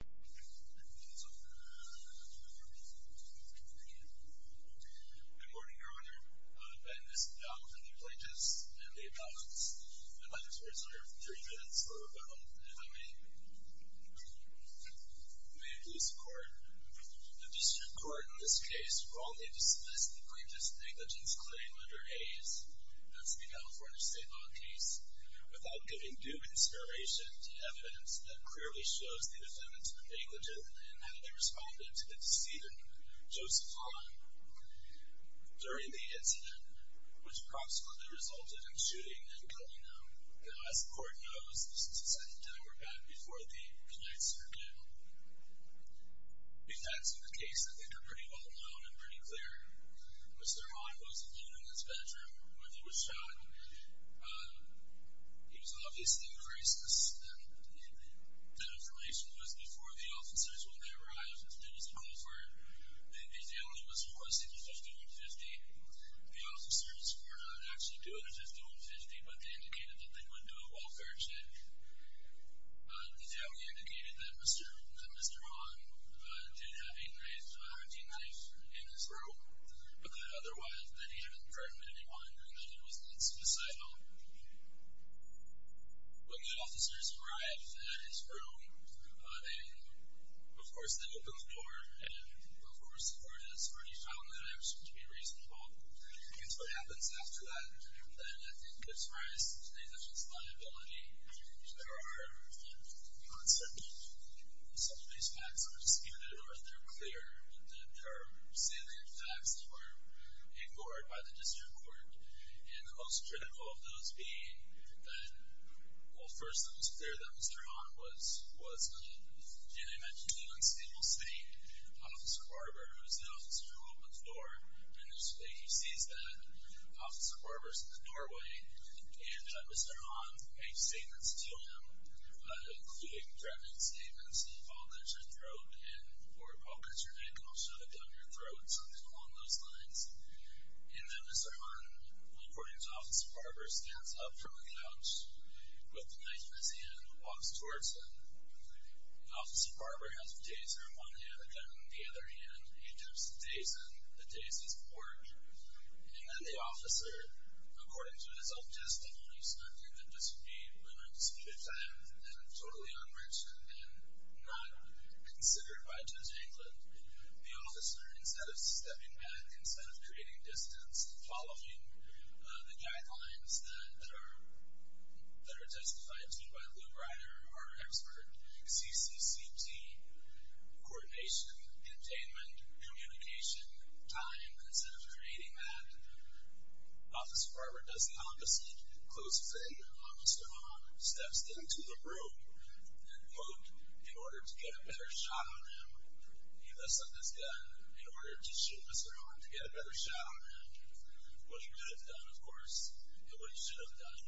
Good morning, Your Honor. I am Mr. Donaldson, the plaintiff's and the appellant's. I'd like to reserve three minutes for rebuttal, if I may. May it please the court. The district court in this case wrongly dismissed the plaintiff's negligence claim under A's, that's the California State Law case, without giving due consideration to evidence that clearly shows the defendant's negligence and how they responded to the decedent, Joseph Han, during the incident, which consequently resulted in shooting and killing him. Now, as the court knows, this is a second hour back before the plaintiff's rebuttal. The effects of the case, I think, are pretty well known and pretty clear. Mr. Han was alone in his bedroom when he was shot. He was obviously very suspicious. That information was before the officers, when they arrived. There was a call for, the family was requesting a 5150. The officers were not actually doing a 5150, but they indicated that they would do a welfare check. The family indicated that Mr. Han did have a knife in his room, but that otherwise that he hadn't hurt anyone and that it was not suicidal. When the officers arrived at his room, they, of course, they opened the door, and, of course, the court has already found that action to be reasonable. I guess what happens after that, then, I think, gives rise to the official's liability. There are the concept that some of these facts are disputed or that they're clear, that there are salient facts that were ignored by the district court, and the most critical of those being that, well, first it was clear that Mr. Han was killed, and I mentioned the unstable state. Officer Barber, who was the officer who opened the door, initially he sees that Officer Barber's in the doorway, and Mr. Han makes statements to him, including threatening statements, and, Paul, cut your throat, and, or, Paul, cut your neck, and I'll shove a gun in your throat, something along those lines. And then Mr. Han, according to Officer Barber, stands up from the couch with the knife in his hand and walks towards him. Officer Barber has the taser in one hand, a gun in the other hand. He dips the taser in the taser's port, and then the officer, according to his own testimony, stood there and disobeyed when on disputed time, and totally unmerciful and not considered by Judge Englund. The officer, instead of stepping back, instead of creating distance, following the guidelines that are testified to by Lou Ryder, our expert, CCCT, coordination, containment, communication, time, instead of creating that, Officer Barber does the opposite, closes in on Mr. Han, steps into the room, and, quote, in order to get a better shot on him, he lifts up his gun in order to shoot Mr. Han, to get a better shot on him. What he could have done, of course, and what he should have done.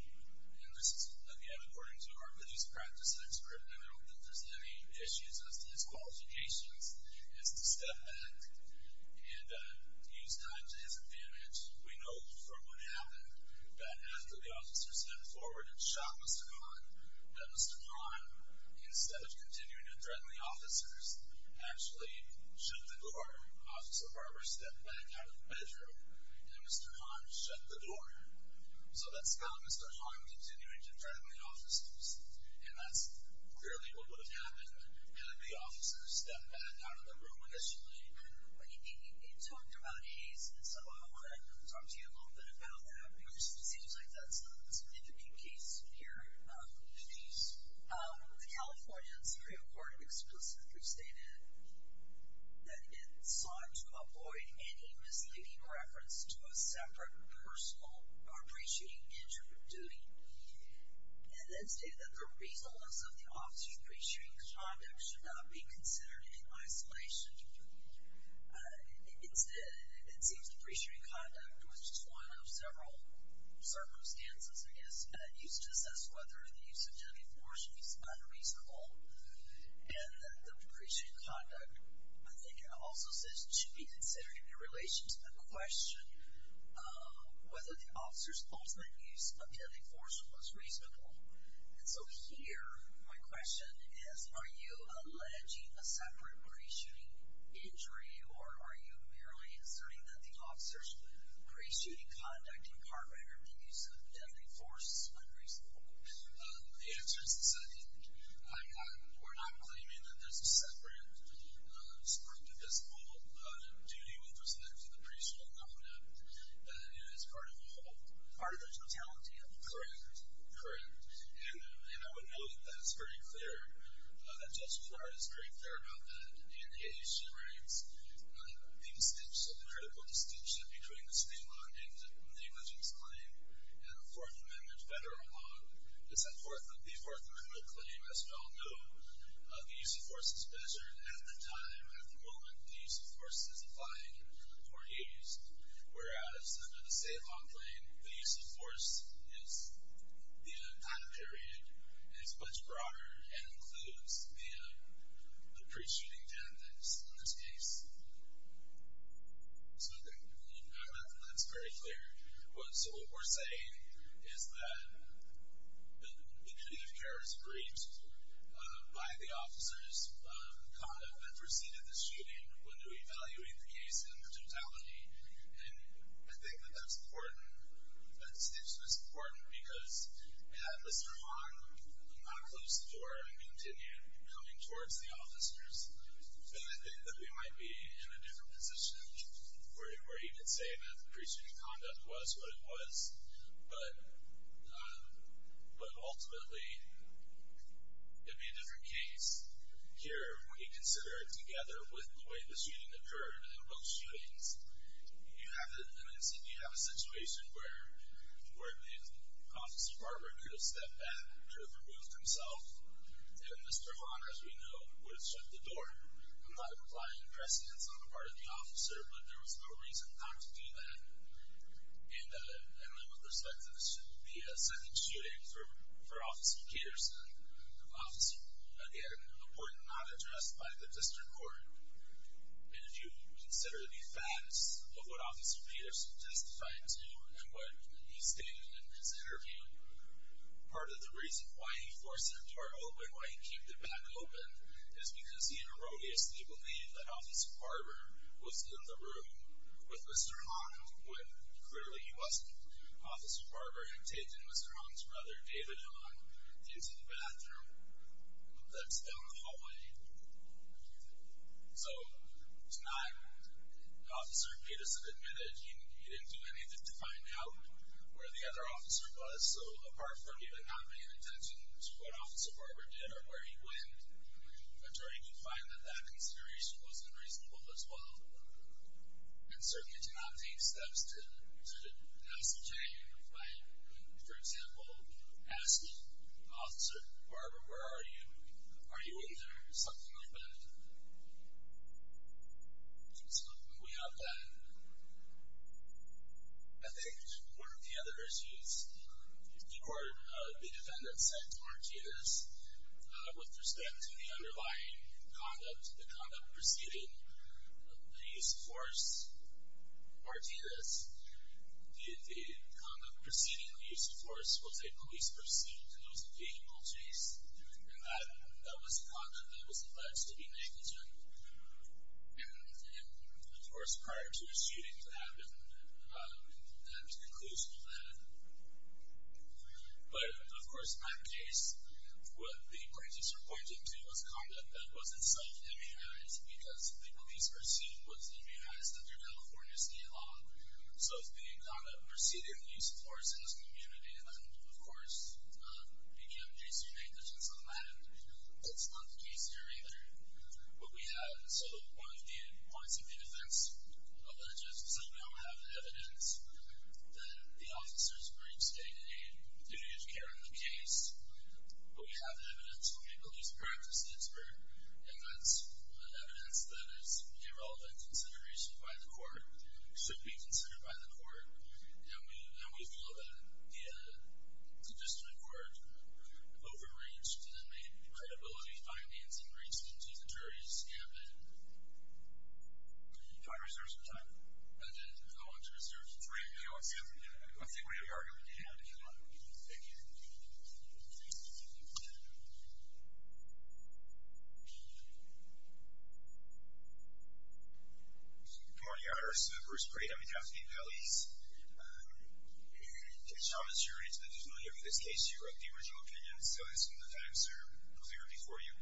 And this is, again, according to our police practice expert, and I don't think there's any issues as to his qualifications, is to step back and use time to his advantage. We know from what happened that after the officer stepped forward and shot Mr. Han, that Mr. Han, instead of continuing to threaten the officers, actually shut the door. Officer Barber stepped back out of the bedroom, and Mr. Han shut the door. So that's how Mr. Han continued to threaten the officers. And that's clearly what would have happened had the officers stepped back out of the room initially. But you talked about haste, and so I want to talk to you a little bit about that, because it seems like that's a significant case here. Please. The California Supreme Court explicitly stated that it sought to avoid any misleading reference to a separate personal or pre-shooting injury of duty, and then stated that the reasonableness of the officer's pre-shooting conduct should not be considered in isolation. Instead, it seems the pre-shooting conduct, which is one of several circumstances, I guess, used to assess whether the use of deadly force is unreasonable, and that the pre-shooting conduct, I think it also says, should be considered in relation to the question whether the officer's ultimate use of deadly force was reasonable. And so here, my question is, are you alleging a separate pre-shooting injury, or are you merely asserting that the officer's pre-shooting conduct and card record of the use of deadly force is unreasonable? The answer is this. We're not claiming that there's a separate spectacular duty with respect to the pre-shooting conduct that is part of the totality of the crime. Correct. And I would note that it's pretty clear that Judge Clark is pretty clear about that, and he actually ranks the distinction, the critical distinction between the state law and the negligence claim and the Fourth Amendment The Fourth Amendment claim, as we all know, the use of force is measured at the time, at the moment, the use of force is applied or used, whereas under the state law claim, the use of force is the time period, and it's much broader, and includes the pre-shooting tactics in this case. So I think that's very clear. So what we're saying is that the duty of care is breached by the officer's conduct that preceded the shooting when we evaluate the case in the totality, and I think that that's important. That distinction is important because had Mr. Hahn not closed the door and continued coming towards the officers, then I think that we might be in a different position where he could say that the pre-shooting conduct was what it was, but ultimately it would be a different case. Here, when you consider it together with the way the shooting occurred and both shootings, you have a situation where the office department could have stepped back, could have removed himself, and Mr. Hahn, as we know, would have shut the door. I'm not implying precedence on the part of the officer, but there was no reason not to do that. And then with respect to the second shooting for Officer Peterson, again, a point not addressed by the district court. And if you consider the facts of what Officer Peterson testified to and what he stated in his interview, part of the reason why he forced the door open, part of the reason why he kept it back open is because he erroneously believed that Officer Barber was in the room with Mr. Hahn when clearly he wasn't. Officer Barber had taken Mr. Hahn's brother, David Hahn, into the bathroom that's down the hallway. So tonight, Officer Peterson admitted he didn't do anything to find out where the other officer was, so apart from even not paying attention to what Officer Barber did or where he went, an attorney could find that that consideration wasn't reasonable as well and certainly do not take steps to pass the jury in a fight. For example, ask Officer Barber, where are you, are you in there, something like that. So we have that. I think one of the other issues, the court, the defendant said to Martinez, with respect to the underlying conduct, the conduct preceding the use of force, Martinez, the conduct preceding the use of force was a police pursuit, it was a vehicle chase, and that was conduct that was alleged to be negligent. And, of course, prior to the shooting that happened, that was the conclusion of that. But, of course, in that case, what the plaintiffs were pointing to was conduct that wasn't self-immunized because the police pursuit was immunized under California state law. So the conduct preceding the use of force in this community then, of course, became case for negligence on that. That's not the case here either. What we have, so one of the points that the defense alleges is that we don't have evidence that the officers breached a duty of care in the case, but we have evidence from a police practice expert, and that's evidence that is a relevant consideration by the court, should be considered by the court, and we feel that the District Court overreached and made credibility findings and reached into the jury's campaign. Do you want to reserve some time? I did. I want to reserve some time. Great. I think we have your argument at hand, if you want. Thank you. Good morning, Your Honor. This is Bruce Preet. I'm with Daphne Pelley's case. Thomas, you're in additional here for this case. You wrote the original opinion, so some of the facts are clear before you.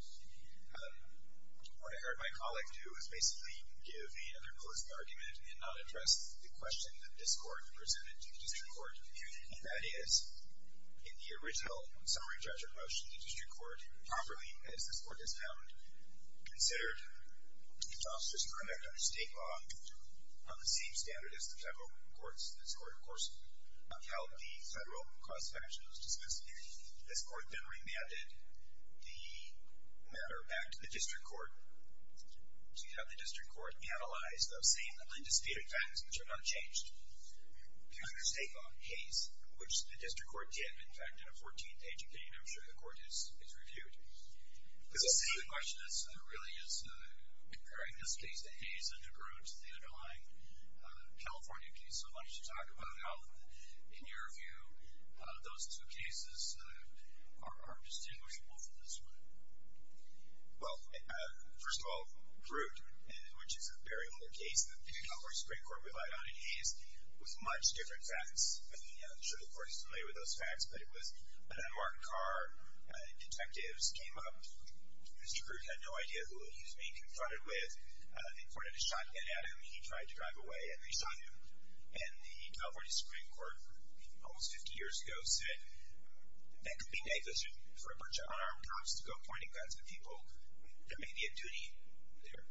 What I heard my colleague do is basically give me another close argument and not address the question that this Court presented to the District Court, and that is, in the original summary judgment motion, the District Court, properly, as this Court has found, considered the officers' conduct under state law on the same standard as the federal courts. This Court, of course, held the federal cross-factionals dismissed. This Court then remanded the matter back to the District Court to have the District Court analyze those same indisputed facts, which are not changed, to under state law case, which the District Court did. In fact, in a 14-page opinion, I'm sure the Court has reviewed. The question really is comparing this case to Hayes and DeGroote, the underlying California case. So why don't you talk about how, in your view, those two cases are distinguishable from this one. Well, first of all, DeGroote, which is a very old case that the California Supreme Court relied on in Hayes, was much different facts. I'm sure the Court is familiar with those facts, but it was an unmarked car. Detectives came up. DeGroote had no idea who he was being confronted with. They pointed a shotgun at him. He tried to drive away, and they shot him. And the California Supreme Court, almost 50 years ago, said that could be negligent for a bunch of unarmed cops to go pointing guns at people. There may be a duty there.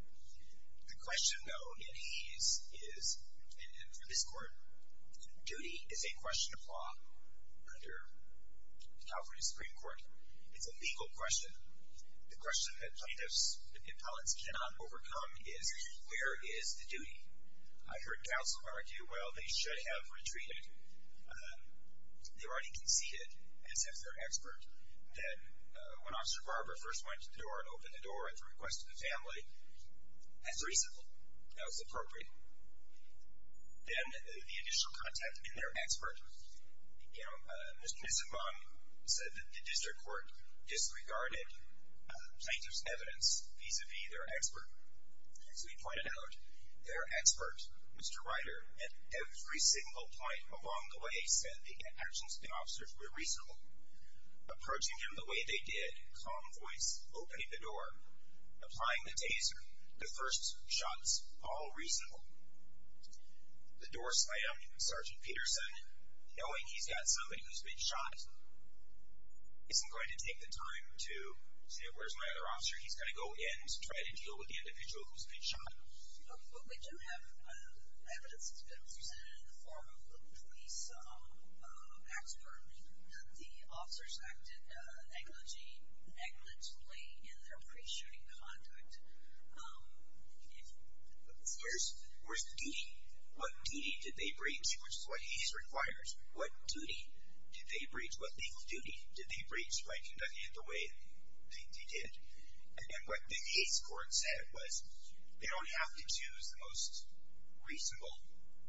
The question, though, in Hayes is, and for this Court, duty is a question of law under the California Supreme Court. It's a legal question. The question that plaintiffs and appellants cannot overcome is, where is the duty? I heard counsel argue, well, they should have retreated. They were already conceded, as if they're expert, that when Officer Barber first went to the door and opened the door at the request of the family, that's reasonable, that was appropriate. Then the additional contact in their expert. You know, Mr. Nissenbaum said that the district court disregarded plaintiffs' evidence vis-à-vis their expert. As we pointed out, their expert, Mr. Ryder, at every single point along the way, said the actions of the officers were reasonable. Approaching him the way they did, calm voice, opening the door, applying the taser, the first shots, all reasonable. The door slam, Sergeant Peterson, knowing he's got somebody who's been shot, isn't going to take the time to say, where's my other officer? He's got to go in and try to deal with the individual who's been shot. But we do have evidence that's been presented in the form of the police expert. The officers acted negligently in their pre-shooting conduct. Where's the duty? What duty did they breach, which is what he requires? What duty did they breach? What legal duty did they breach by conducting it the way they did? And what the case court said was, they don't have to choose the most reasonable.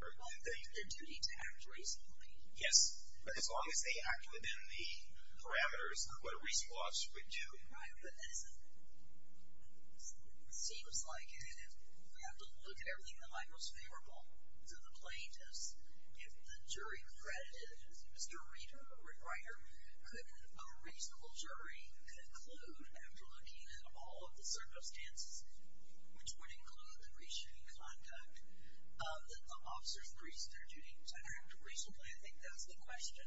Their duty to act reasonably. Yes, but as long as they act within the parameters of what a reasonable officer would do. Right, but it seems like if we have to look at everything that might most favorable to the plaintiffs, if the jury credited Mr. Ryder, could a reasonable jury conclude, after looking at all of the circumstances, which would include the pre-shooting conduct, that the officers breached their duty to act reasonably? I think that's the question.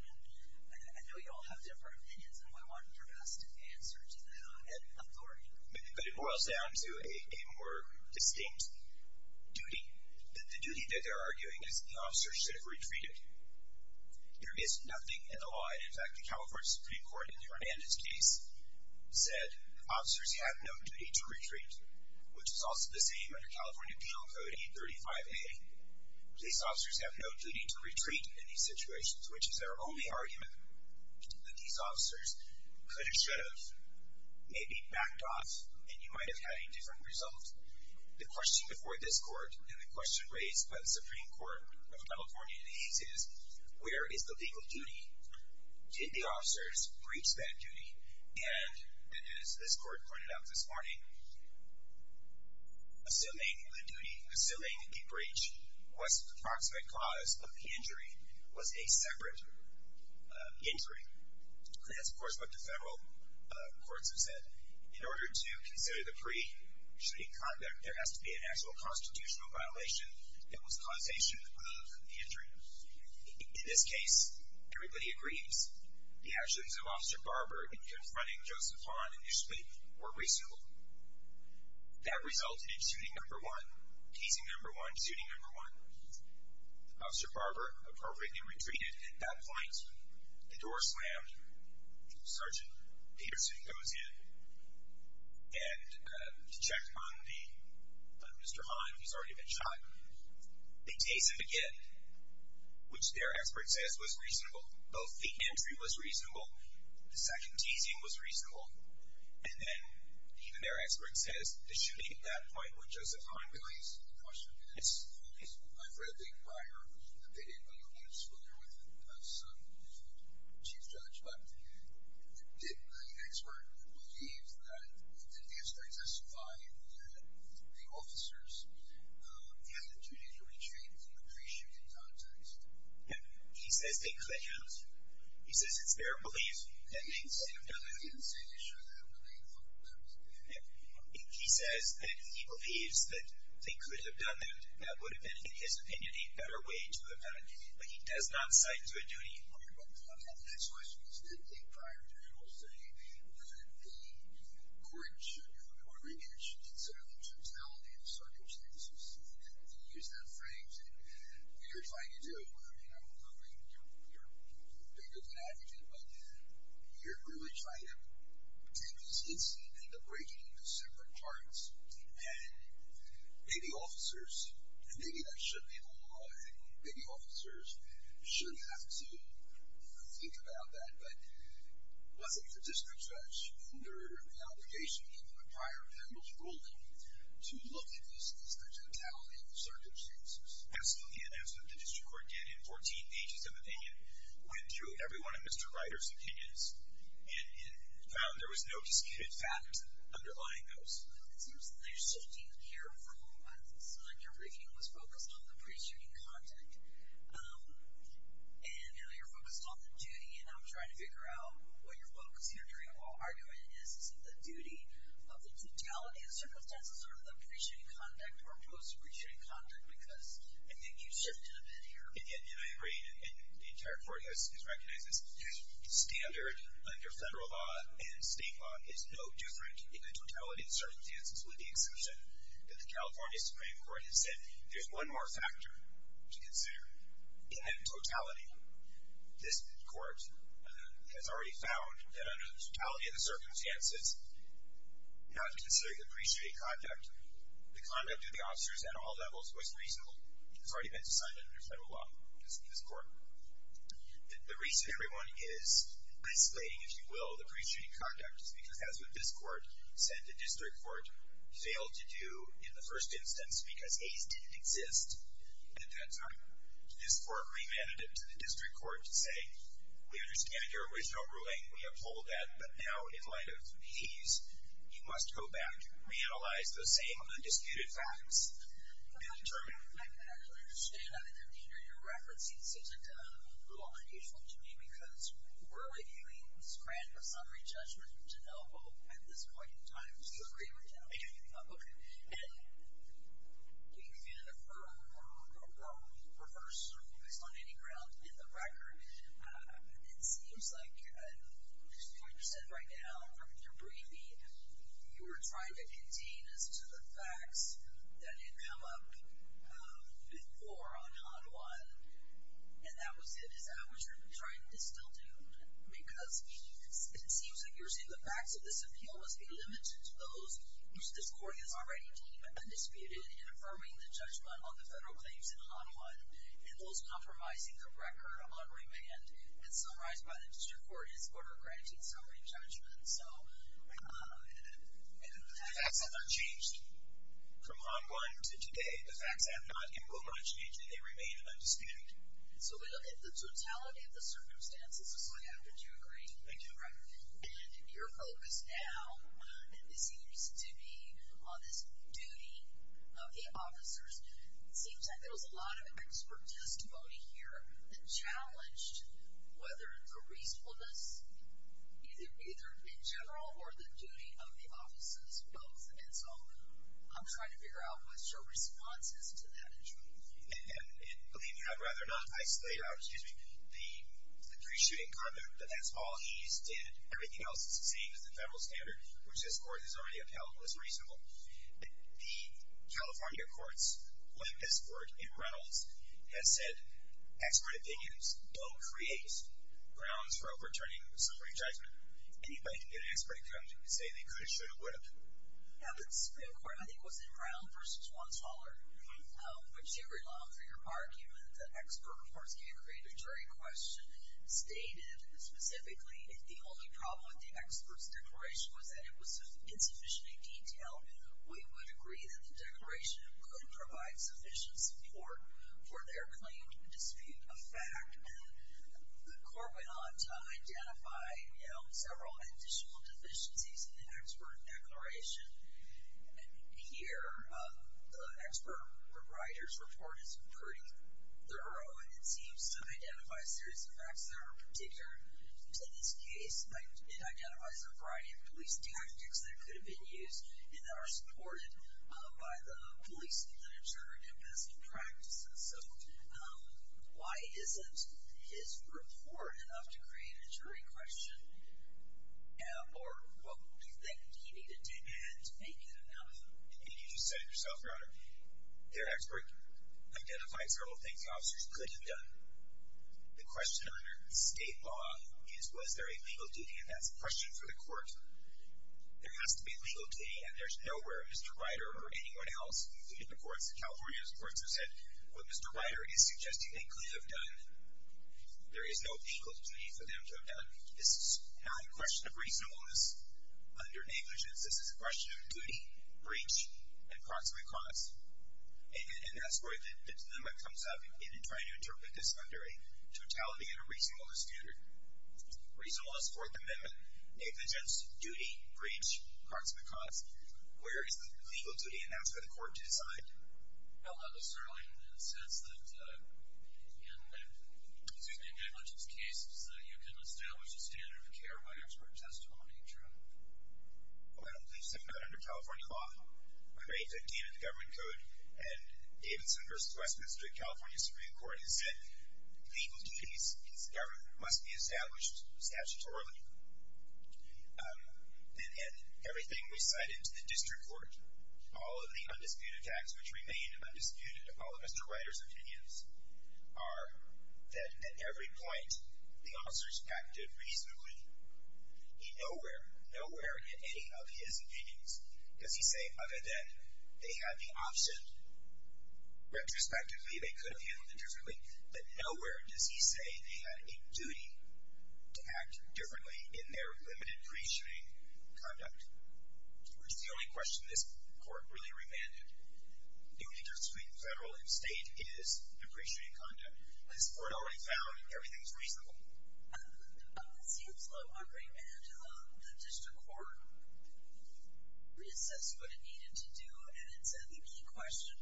I know you all have different opinions, and I want your best answer to that, and authority. But it boils down to a more distinct duty. The duty that they're arguing is the officers should have retreated. There is nothing in the law, and in fact the California Supreme Court in the Hernandez case, said officers have no duty to retreat. Which is also the same under California Appeal Code 835A. Police officers have no duty to retreat in these situations, which is their only argument. That these officers could have, should have, maybe backed off, and you might have had a different result. The question before this court, and the question raised by the Supreme Court of California these days, where is the legal duty? Did the officers breach that duty? And as this court pointed out this morning, assuming the duty, assuming the breach, what's the approximate cause of the injury was a separate injury. And that's, of course, what the federal courts have said. In order to consider the pre-shooting conduct, there has to be an actual constitutional violation that was causation of the injury. In this case, everybody agrees, the actions of Officer Barber in confronting Joseph Hahn initially were reasonable. That resulted in shooting number one, teasing number one, shooting number one. Officer Barber appropriately retreated. At that point, the door slammed. Sergeant Peterson goes in, and to check on Mr. Hahn, who's already been shot. They tease him again, which their expert says was reasonable. Both the entry was reasonable. The second teasing was reasonable. And then, even their expert says, the shooting at that point when Joseph Hahn was released, the question is reasonable. I've read the prior opinion, but I don't want to swill there with some chief judge. But did the expert believe that, did the expert testify that the officers had the duty to retreat in the pre-shooting context? He says they could have. He says it's their belief that they could have done that. He didn't say they should have, but they looked at it. He says that he believes that they could have done that. That would have been, in his opinion, a better way to have done it. But he does not cite to a duty. The next question is, did the prior judge say that the court should, or maybe it should consider the totality of the circumstances in which they used that phrase? And what you're trying to do, I mean, I don't think you're bigger than average in it, but you're really trying to take this incident and break it into separate parts. And maybe officers, and maybe that shouldn't be the law, but maybe officers should have to think about that. But was it the district judge under obligation in the prior appellate ruling to look at this as the totality of the circumstances? Absolutely. And that's what the district court did in 14 pages of opinion, went through every one of Mr. Ryder's opinions, and found there was no discredited fact underlying those. It seems that they're still being careful. Your briefing was focused on the pre-shooting conduct. And now you're focused on the duty, and I'm trying to figure out what you're focusing or arguing. Is it the duty of the totality of the circumstances or the pre-shooting conduct or post-pre-shooting conduct? Because I think you've shifted a bit here. And I agree, and the entire court has recognized this. Standard under federal law and state law is no different in the totality of the circumstances with the exception that the California Supreme Court has said there's one more factor to consider. In the totality, this court has already found that under the totality of the circumstances, not considering the pre-shooting conduct, the conduct of the officers at all levels was reasonable. It's already been decided under federal law in this court. The reason everyone is isolating, if you will, the pre-shooting conduct, is because, as what this court said the district court failed to do in the first instance because A's didn't exist at that time, this court remanded it to the district court to say, we understand your original ruling. We uphold that. But now, in light of P's, you must go back, reanalyze the same undisputed facts, and determine. I don't understand. I don't understand either. Your reference seems like a little unusual to me because we're reviewing this grant for summary judgment to know, well, at this point in time, it's the agreement now. Okay. And we can't affirm or reverse based on any ground in the record. It seems like, as you understand right now from your briefing, you were trying to contain us to the facts that had come up before on HOD 1, and that was it. Is that what you're trying to still do? Because it seems like you're saying the facts of this appeal must be limited to those whose discord is already deep and undisputed in affirming the judgment on the federal claims in HOD 1, and those compromising the record on remand and summarized by the district court is order granting summary judgment. The facts have not changed from HOD 1 to today. The facts have not improved on change, and they remain undisputed. So we look at the totality of the circumstances, so I have to do agree. I do. Right. And your focus now seems to be on this duty of the officers. It seems like there was a lot of expert testimony here that challenged whether the reasonableness, either in general or the duty of the officers, was both. And so I'm trying to figure out what your response is to that issue. And believe me, I'd rather not isolate out the pre-shooting comment that that's all he's did. Everything else is the same as the federal standard, which this court has already upheld as reasonable. The California courts, when this worked in Reynolds, has said expert opinions don't create grounds for overturning summary judgment. Anybody can get an expert to come to you and say they could have, should have, would have. Yeah, but the Supreme Court, I think, was in Brown v. Schwantz-Holler, where Jerry Long, for your argument, the expert, of course, can't create a jury question, stated specifically that the only problem with the expert's declaration was that it was insufficiently detailed. We would agree that the declaration could provide sufficient support for their claim to dispute a fact. The court went on to identify several additional deficiencies in the expert declaration. And here, the expert writer's report is pretty thorough, and it seems to identify serious effects that are particular to this case. It identifies a variety of police tactics that could have been used and that are supported by the police literature and best practices. So why isn't his report enough to create a jury question? Or what do you think he needed to add to make it enough? I think you just said it yourself, Your Honor. Their expert identifies several things the officers could have done. The question under state law is was there a legal duty, and that's a question for the court. There has to be a legal duty, and there's nowhere, Mr. Writer or anyone else, including the courts in California, who said what Mr. Writer is suggesting they could have done. There is no legal duty for them to have done. This is not a question of reasonableness under negligence. This is a question of duty, breach, and proximate cause. And that's where the dilemma comes up in trying to interpret this under a totality and a reasonableness standard. Reasonableness, Fourth Amendment, negligence, duty, breach, proximate cause, where is the legal duty? And that's for the court to decide. Well, not necessarily in the sense that in the duty and negligence cases that you can establish a standard of care by expert testimony, Your Honor. Well, I don't believe so. Not under California law. I believe that came in the government code, and Davidson v. Westminster of the California Supreme Court has said the legal duty in this government must be established statutorily. And in everything we cited to the district court, all of the undisputed facts which remain undisputed, all of Mr. Writer's opinions, are that at every point the officers acted reasonably. In nowhere, nowhere in any of his opinions does he say, okay, then, they had the option retrospectively. They could have handled it differently. But nowhere does he say they had a duty to act differently in their limited pre-treating conduct, which is the only question this court really remanded. Duty to treat federal and state is a pre-treating conduct. This court already found everything's reasonable. It seems a little unremanded. The district court reassessed what it needed to do, and it said the key question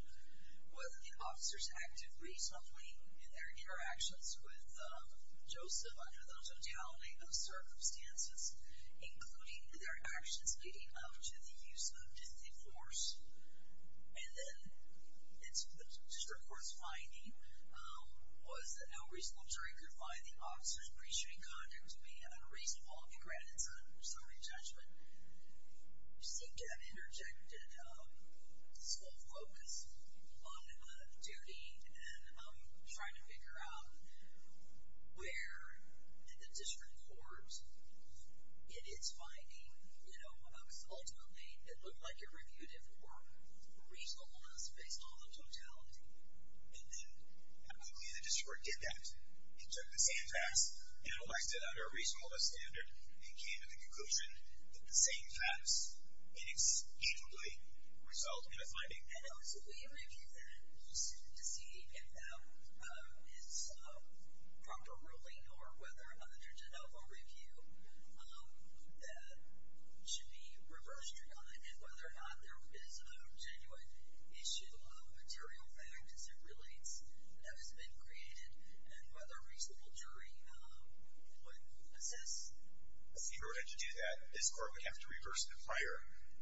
was the officers acted reasonably in their interactions with Joseph under the totality of circumstances, including their actions leading up to the use of dithy force. And then the district court's finding was that no reasonable jury could find the officers' pre-treating conduct to be unreasonable. It granted some re-judgment. You seem to have interjected a small focus on duty and trying to figure out where the district court, in its finding, ultimately it looked like it reviewed it for reasonableness based on the totality. And then how quickly the district court did that. It took the same facts, analyzed it under a reasonableness standard, and came to the conclusion that the same facts inexplicably result in a finding. I know. So will you review that to see if that is a proper ruling or whether under de novo review that should be reversed or not, and whether or not there is a genuine issue of material fact as it relates that has been created, and whether a reasonable jury would assist? In order to do that, this court would have to reverse the prior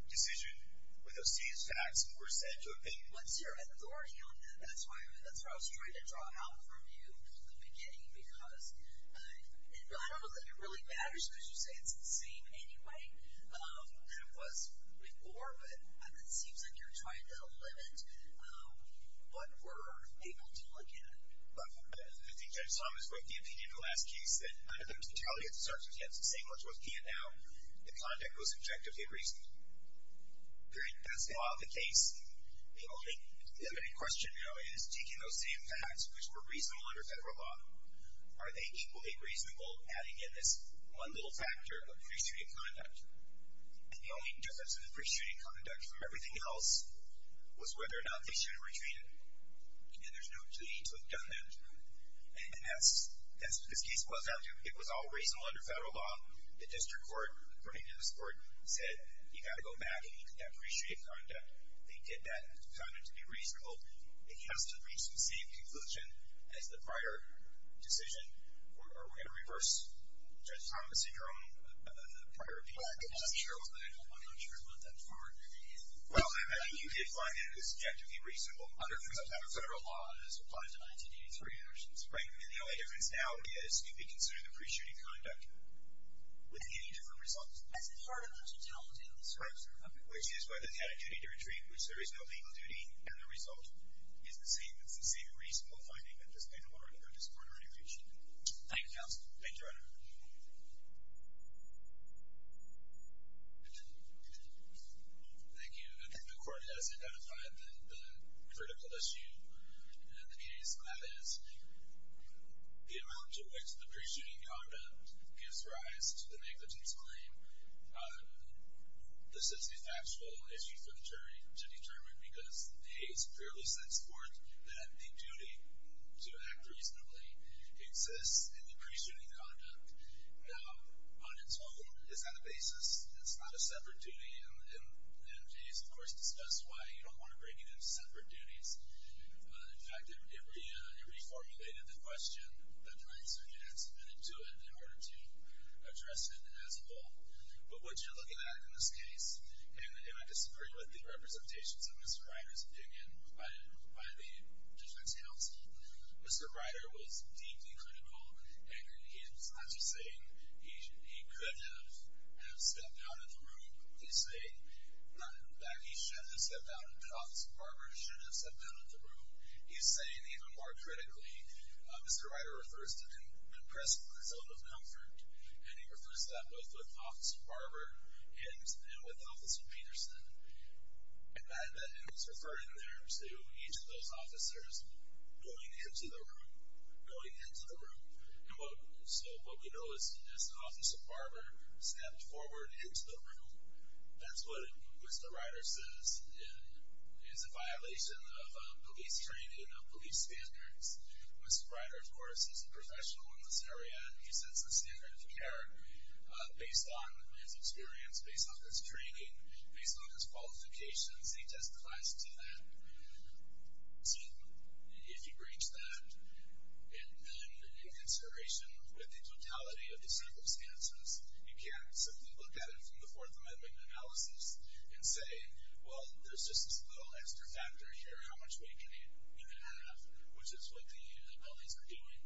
decision where those same facts were said to have been. Well, it's your authority on that. That's what I was trying to draw out from you in the beginning, because I don't know that it really matters because you say it's the same anyway than it was before, but it seems like you're trying to limit what we're able to look at. But I think Judge Thomas wrote the opinion in the last case that under the totality of the circumstances, the same ones we're looking at now, the conduct was objectively reasoned. Period. That's not the case. The only limited question now is, taking those same facts, which were reasonable under federal law, are they equally reasonable adding in this one little factor of pre-treating conduct? And the only difference in the pre-treating conduct from everything else was whether or not they should have retreated. And there's no need to have done that. And that's what this case was up to. It was all reasonable under federal law. The district court, according to this court, said you've got to go back and you can depreciate conduct. They did that to be reasonable. It has to reach the same conclusion as the prior decision. Are we going to reverse Judge Thomas in your own prior opinion? Well, I'm not sure about that part. Well, I mean, you did find it subjectively reasonable under some type of federal law as applied to 1983, for instance. Right. And the only difference now is you'd be considering the pre-treating conduct with any different results. As part of the totality of the circumstances. Right. Which is whether it had a duty to retreat, which there is no legal duty, and the result is the same. It's the same reasonable finding that this court already reached. Thank you, counsel. Thank you, Your Honor. Thank you. I think the court has identified the critical issue in the case, and that is the amount to which the pre-shooting conduct gives rise to the negligence claim. This is a factual issue for the jury to determine because Hays clearly sets forth that the duty to act reasonably exists in the pre-shooting conduct. Now, on its own, it's not a basis, it's not a separate duty, and Hays, of course, discussed why you don't want to bring it into separate duties. In fact, it reformulated the question that the defense submitted to it in order to address it as a whole. But what you're looking at in this case, and I disagree with the representations of Mr. Ryder's opinion by the defense counsel, Mr. Ryder was deeply critical, and he's not just saying he could have stepped out of the room, he's saying that he shouldn't have stepped out, that Officer Barber shouldn't have stepped out of the room. He's saying, even more critically, Mr. Ryder refers to an impressive zone of comfort, and he refers to that both with Officer Barber and with Officer Peterson. And he's referring there to each of those officers going into the room, going into the room. So what we know is that Officer Barber stepped forward into the room. That's what Mr. Ryder says is a violation of police training, of police standards. Mr. Ryder, of course, is a professional in this area, and he sets the standard of care based on his experience, based on his training, based on his qualifications. He testifies to that. So if you breach that, then in consideration with the totality of the circumstances, you can't simply look at it from the Fourth Amendment analysis and say, well, there's just this little extra factor here, how much weight can you have, which is what the LAs are doing.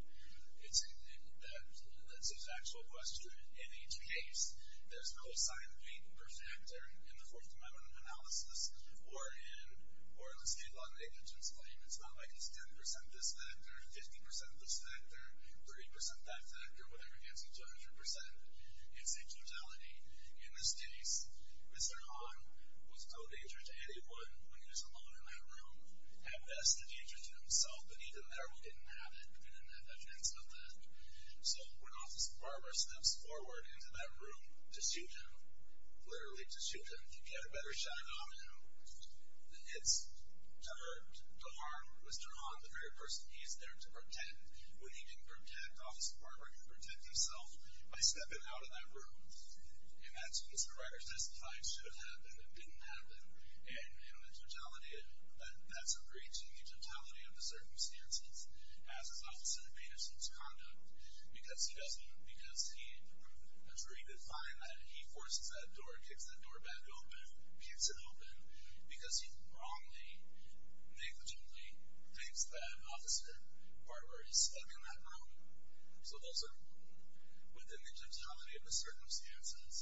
That's his actual question. In each case, there's a cosine weight per factor in the Fourth Amendment analysis or in the state law negligence claim. It's not like it's 10% this factor, 50% this factor, 30% that factor, whatever gets you to 100%. It's a totality. In this case, Mr. Hahn was no danger to anyone when he was alone in that room. At best, a danger to himself. But even there, we didn't have it. We didn't have evidence of that. So when Officer Barber steps forward into that room to shoot him, literally to shoot him, to get a better shot at him, it's to harm Mr. Hahn, the very person he's there to protect. When he didn't protect Officer Barber, he didn't protect himself by stepping out of that room. And that's what Mr. Ryder testified should have happened and didn't happen. And in the totality of it, that's a breach in the totality of the circumstances as his office intervened in such conduct because a jury could find that he forces that door, kicks that door back open, keeps it open, because he wrongly, negligently thinks that Officer Barber is stuck in that room. So those are, within the totality of the circumstances,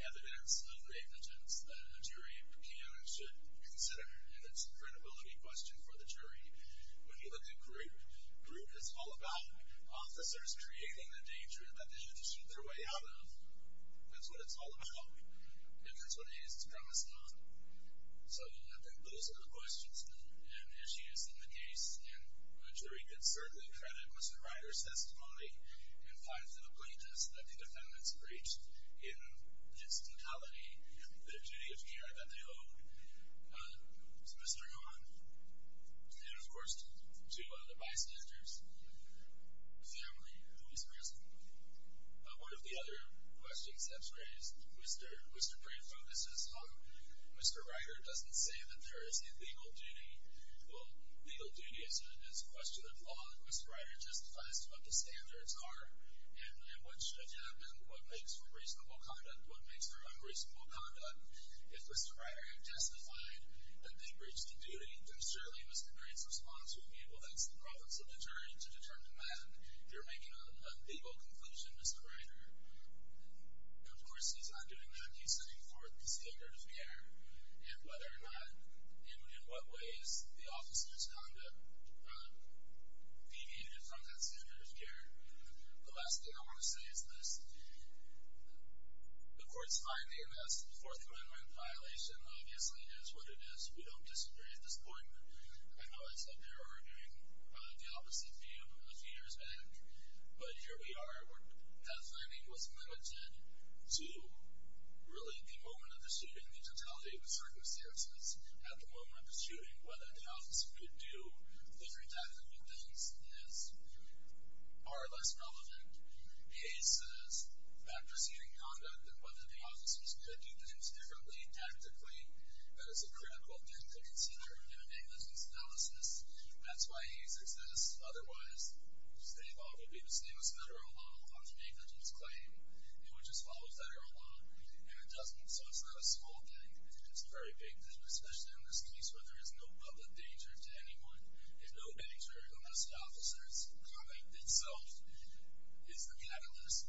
evidence of negligence that a jury can and should consider, and it's a credibility question for the jury. When you look at group, group is all about officers creating the danger that they had to shoot their way out of. That's what it's all about, and that's what it is it's premised on. So those are the questions and issues in the case, and a jury could certainly credit Mr. Ryder's testimony and find for the plaintiffs that the defendants breached in its totality the duty of care that they owed to Mr. Hahn. And, of course, to the bystanders, the family who was present. One of the other questions that was raised, Mr. Bray focuses on Mr. Ryder doesn't say that there is a legal duty. Well, legal duty is a question of law, and Mr. Ryder justifies what the standards are and what should happen, what makes for reasonable conduct, what makes for unreasonable conduct. If Mr. Ryder had testified that they breached the duty, then certainly Mr. Gray's response would be, well, that's the province of the jury to determine that. You're making a legal conclusion, Mr. Ryder. Of course, he's not doing that. He's setting forth the standard of care and whether or not and in what ways the officer's conduct deviated from that standard of care. The last thing I want to say is this. The court's finding of this Fourth Amendment violation obviously is what it is. We don't disagree at this point. I know I said they were arguing the opposite view a few years back, but here we are. That finding was limited to really the moment of the shooting, the totality of the circumstances at the moment of the shooting, whether the officer could do different types of things, is far less relevant. Hayes says that proceeding conduct and whether the officers could do things differently tactically, that is a critical thing to consider in a negligence analysis. That's why Hayes exists. Otherwise, the state law would be the same as federal law on the negligence claim. It would just follow federal law, and it doesn't. So it's not a small thing. It's a very big thing, especially in this case where there is no public danger to anyone. There's no danger against the officers. Combat itself is the catalyst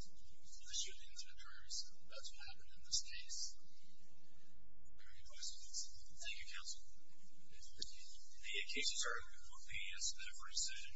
for the shootings and injuries. That's what happened in this case. Are there any questions? Thank you, counsel. Thank you, Mr. Chief. The case is heard. The case is there for decision.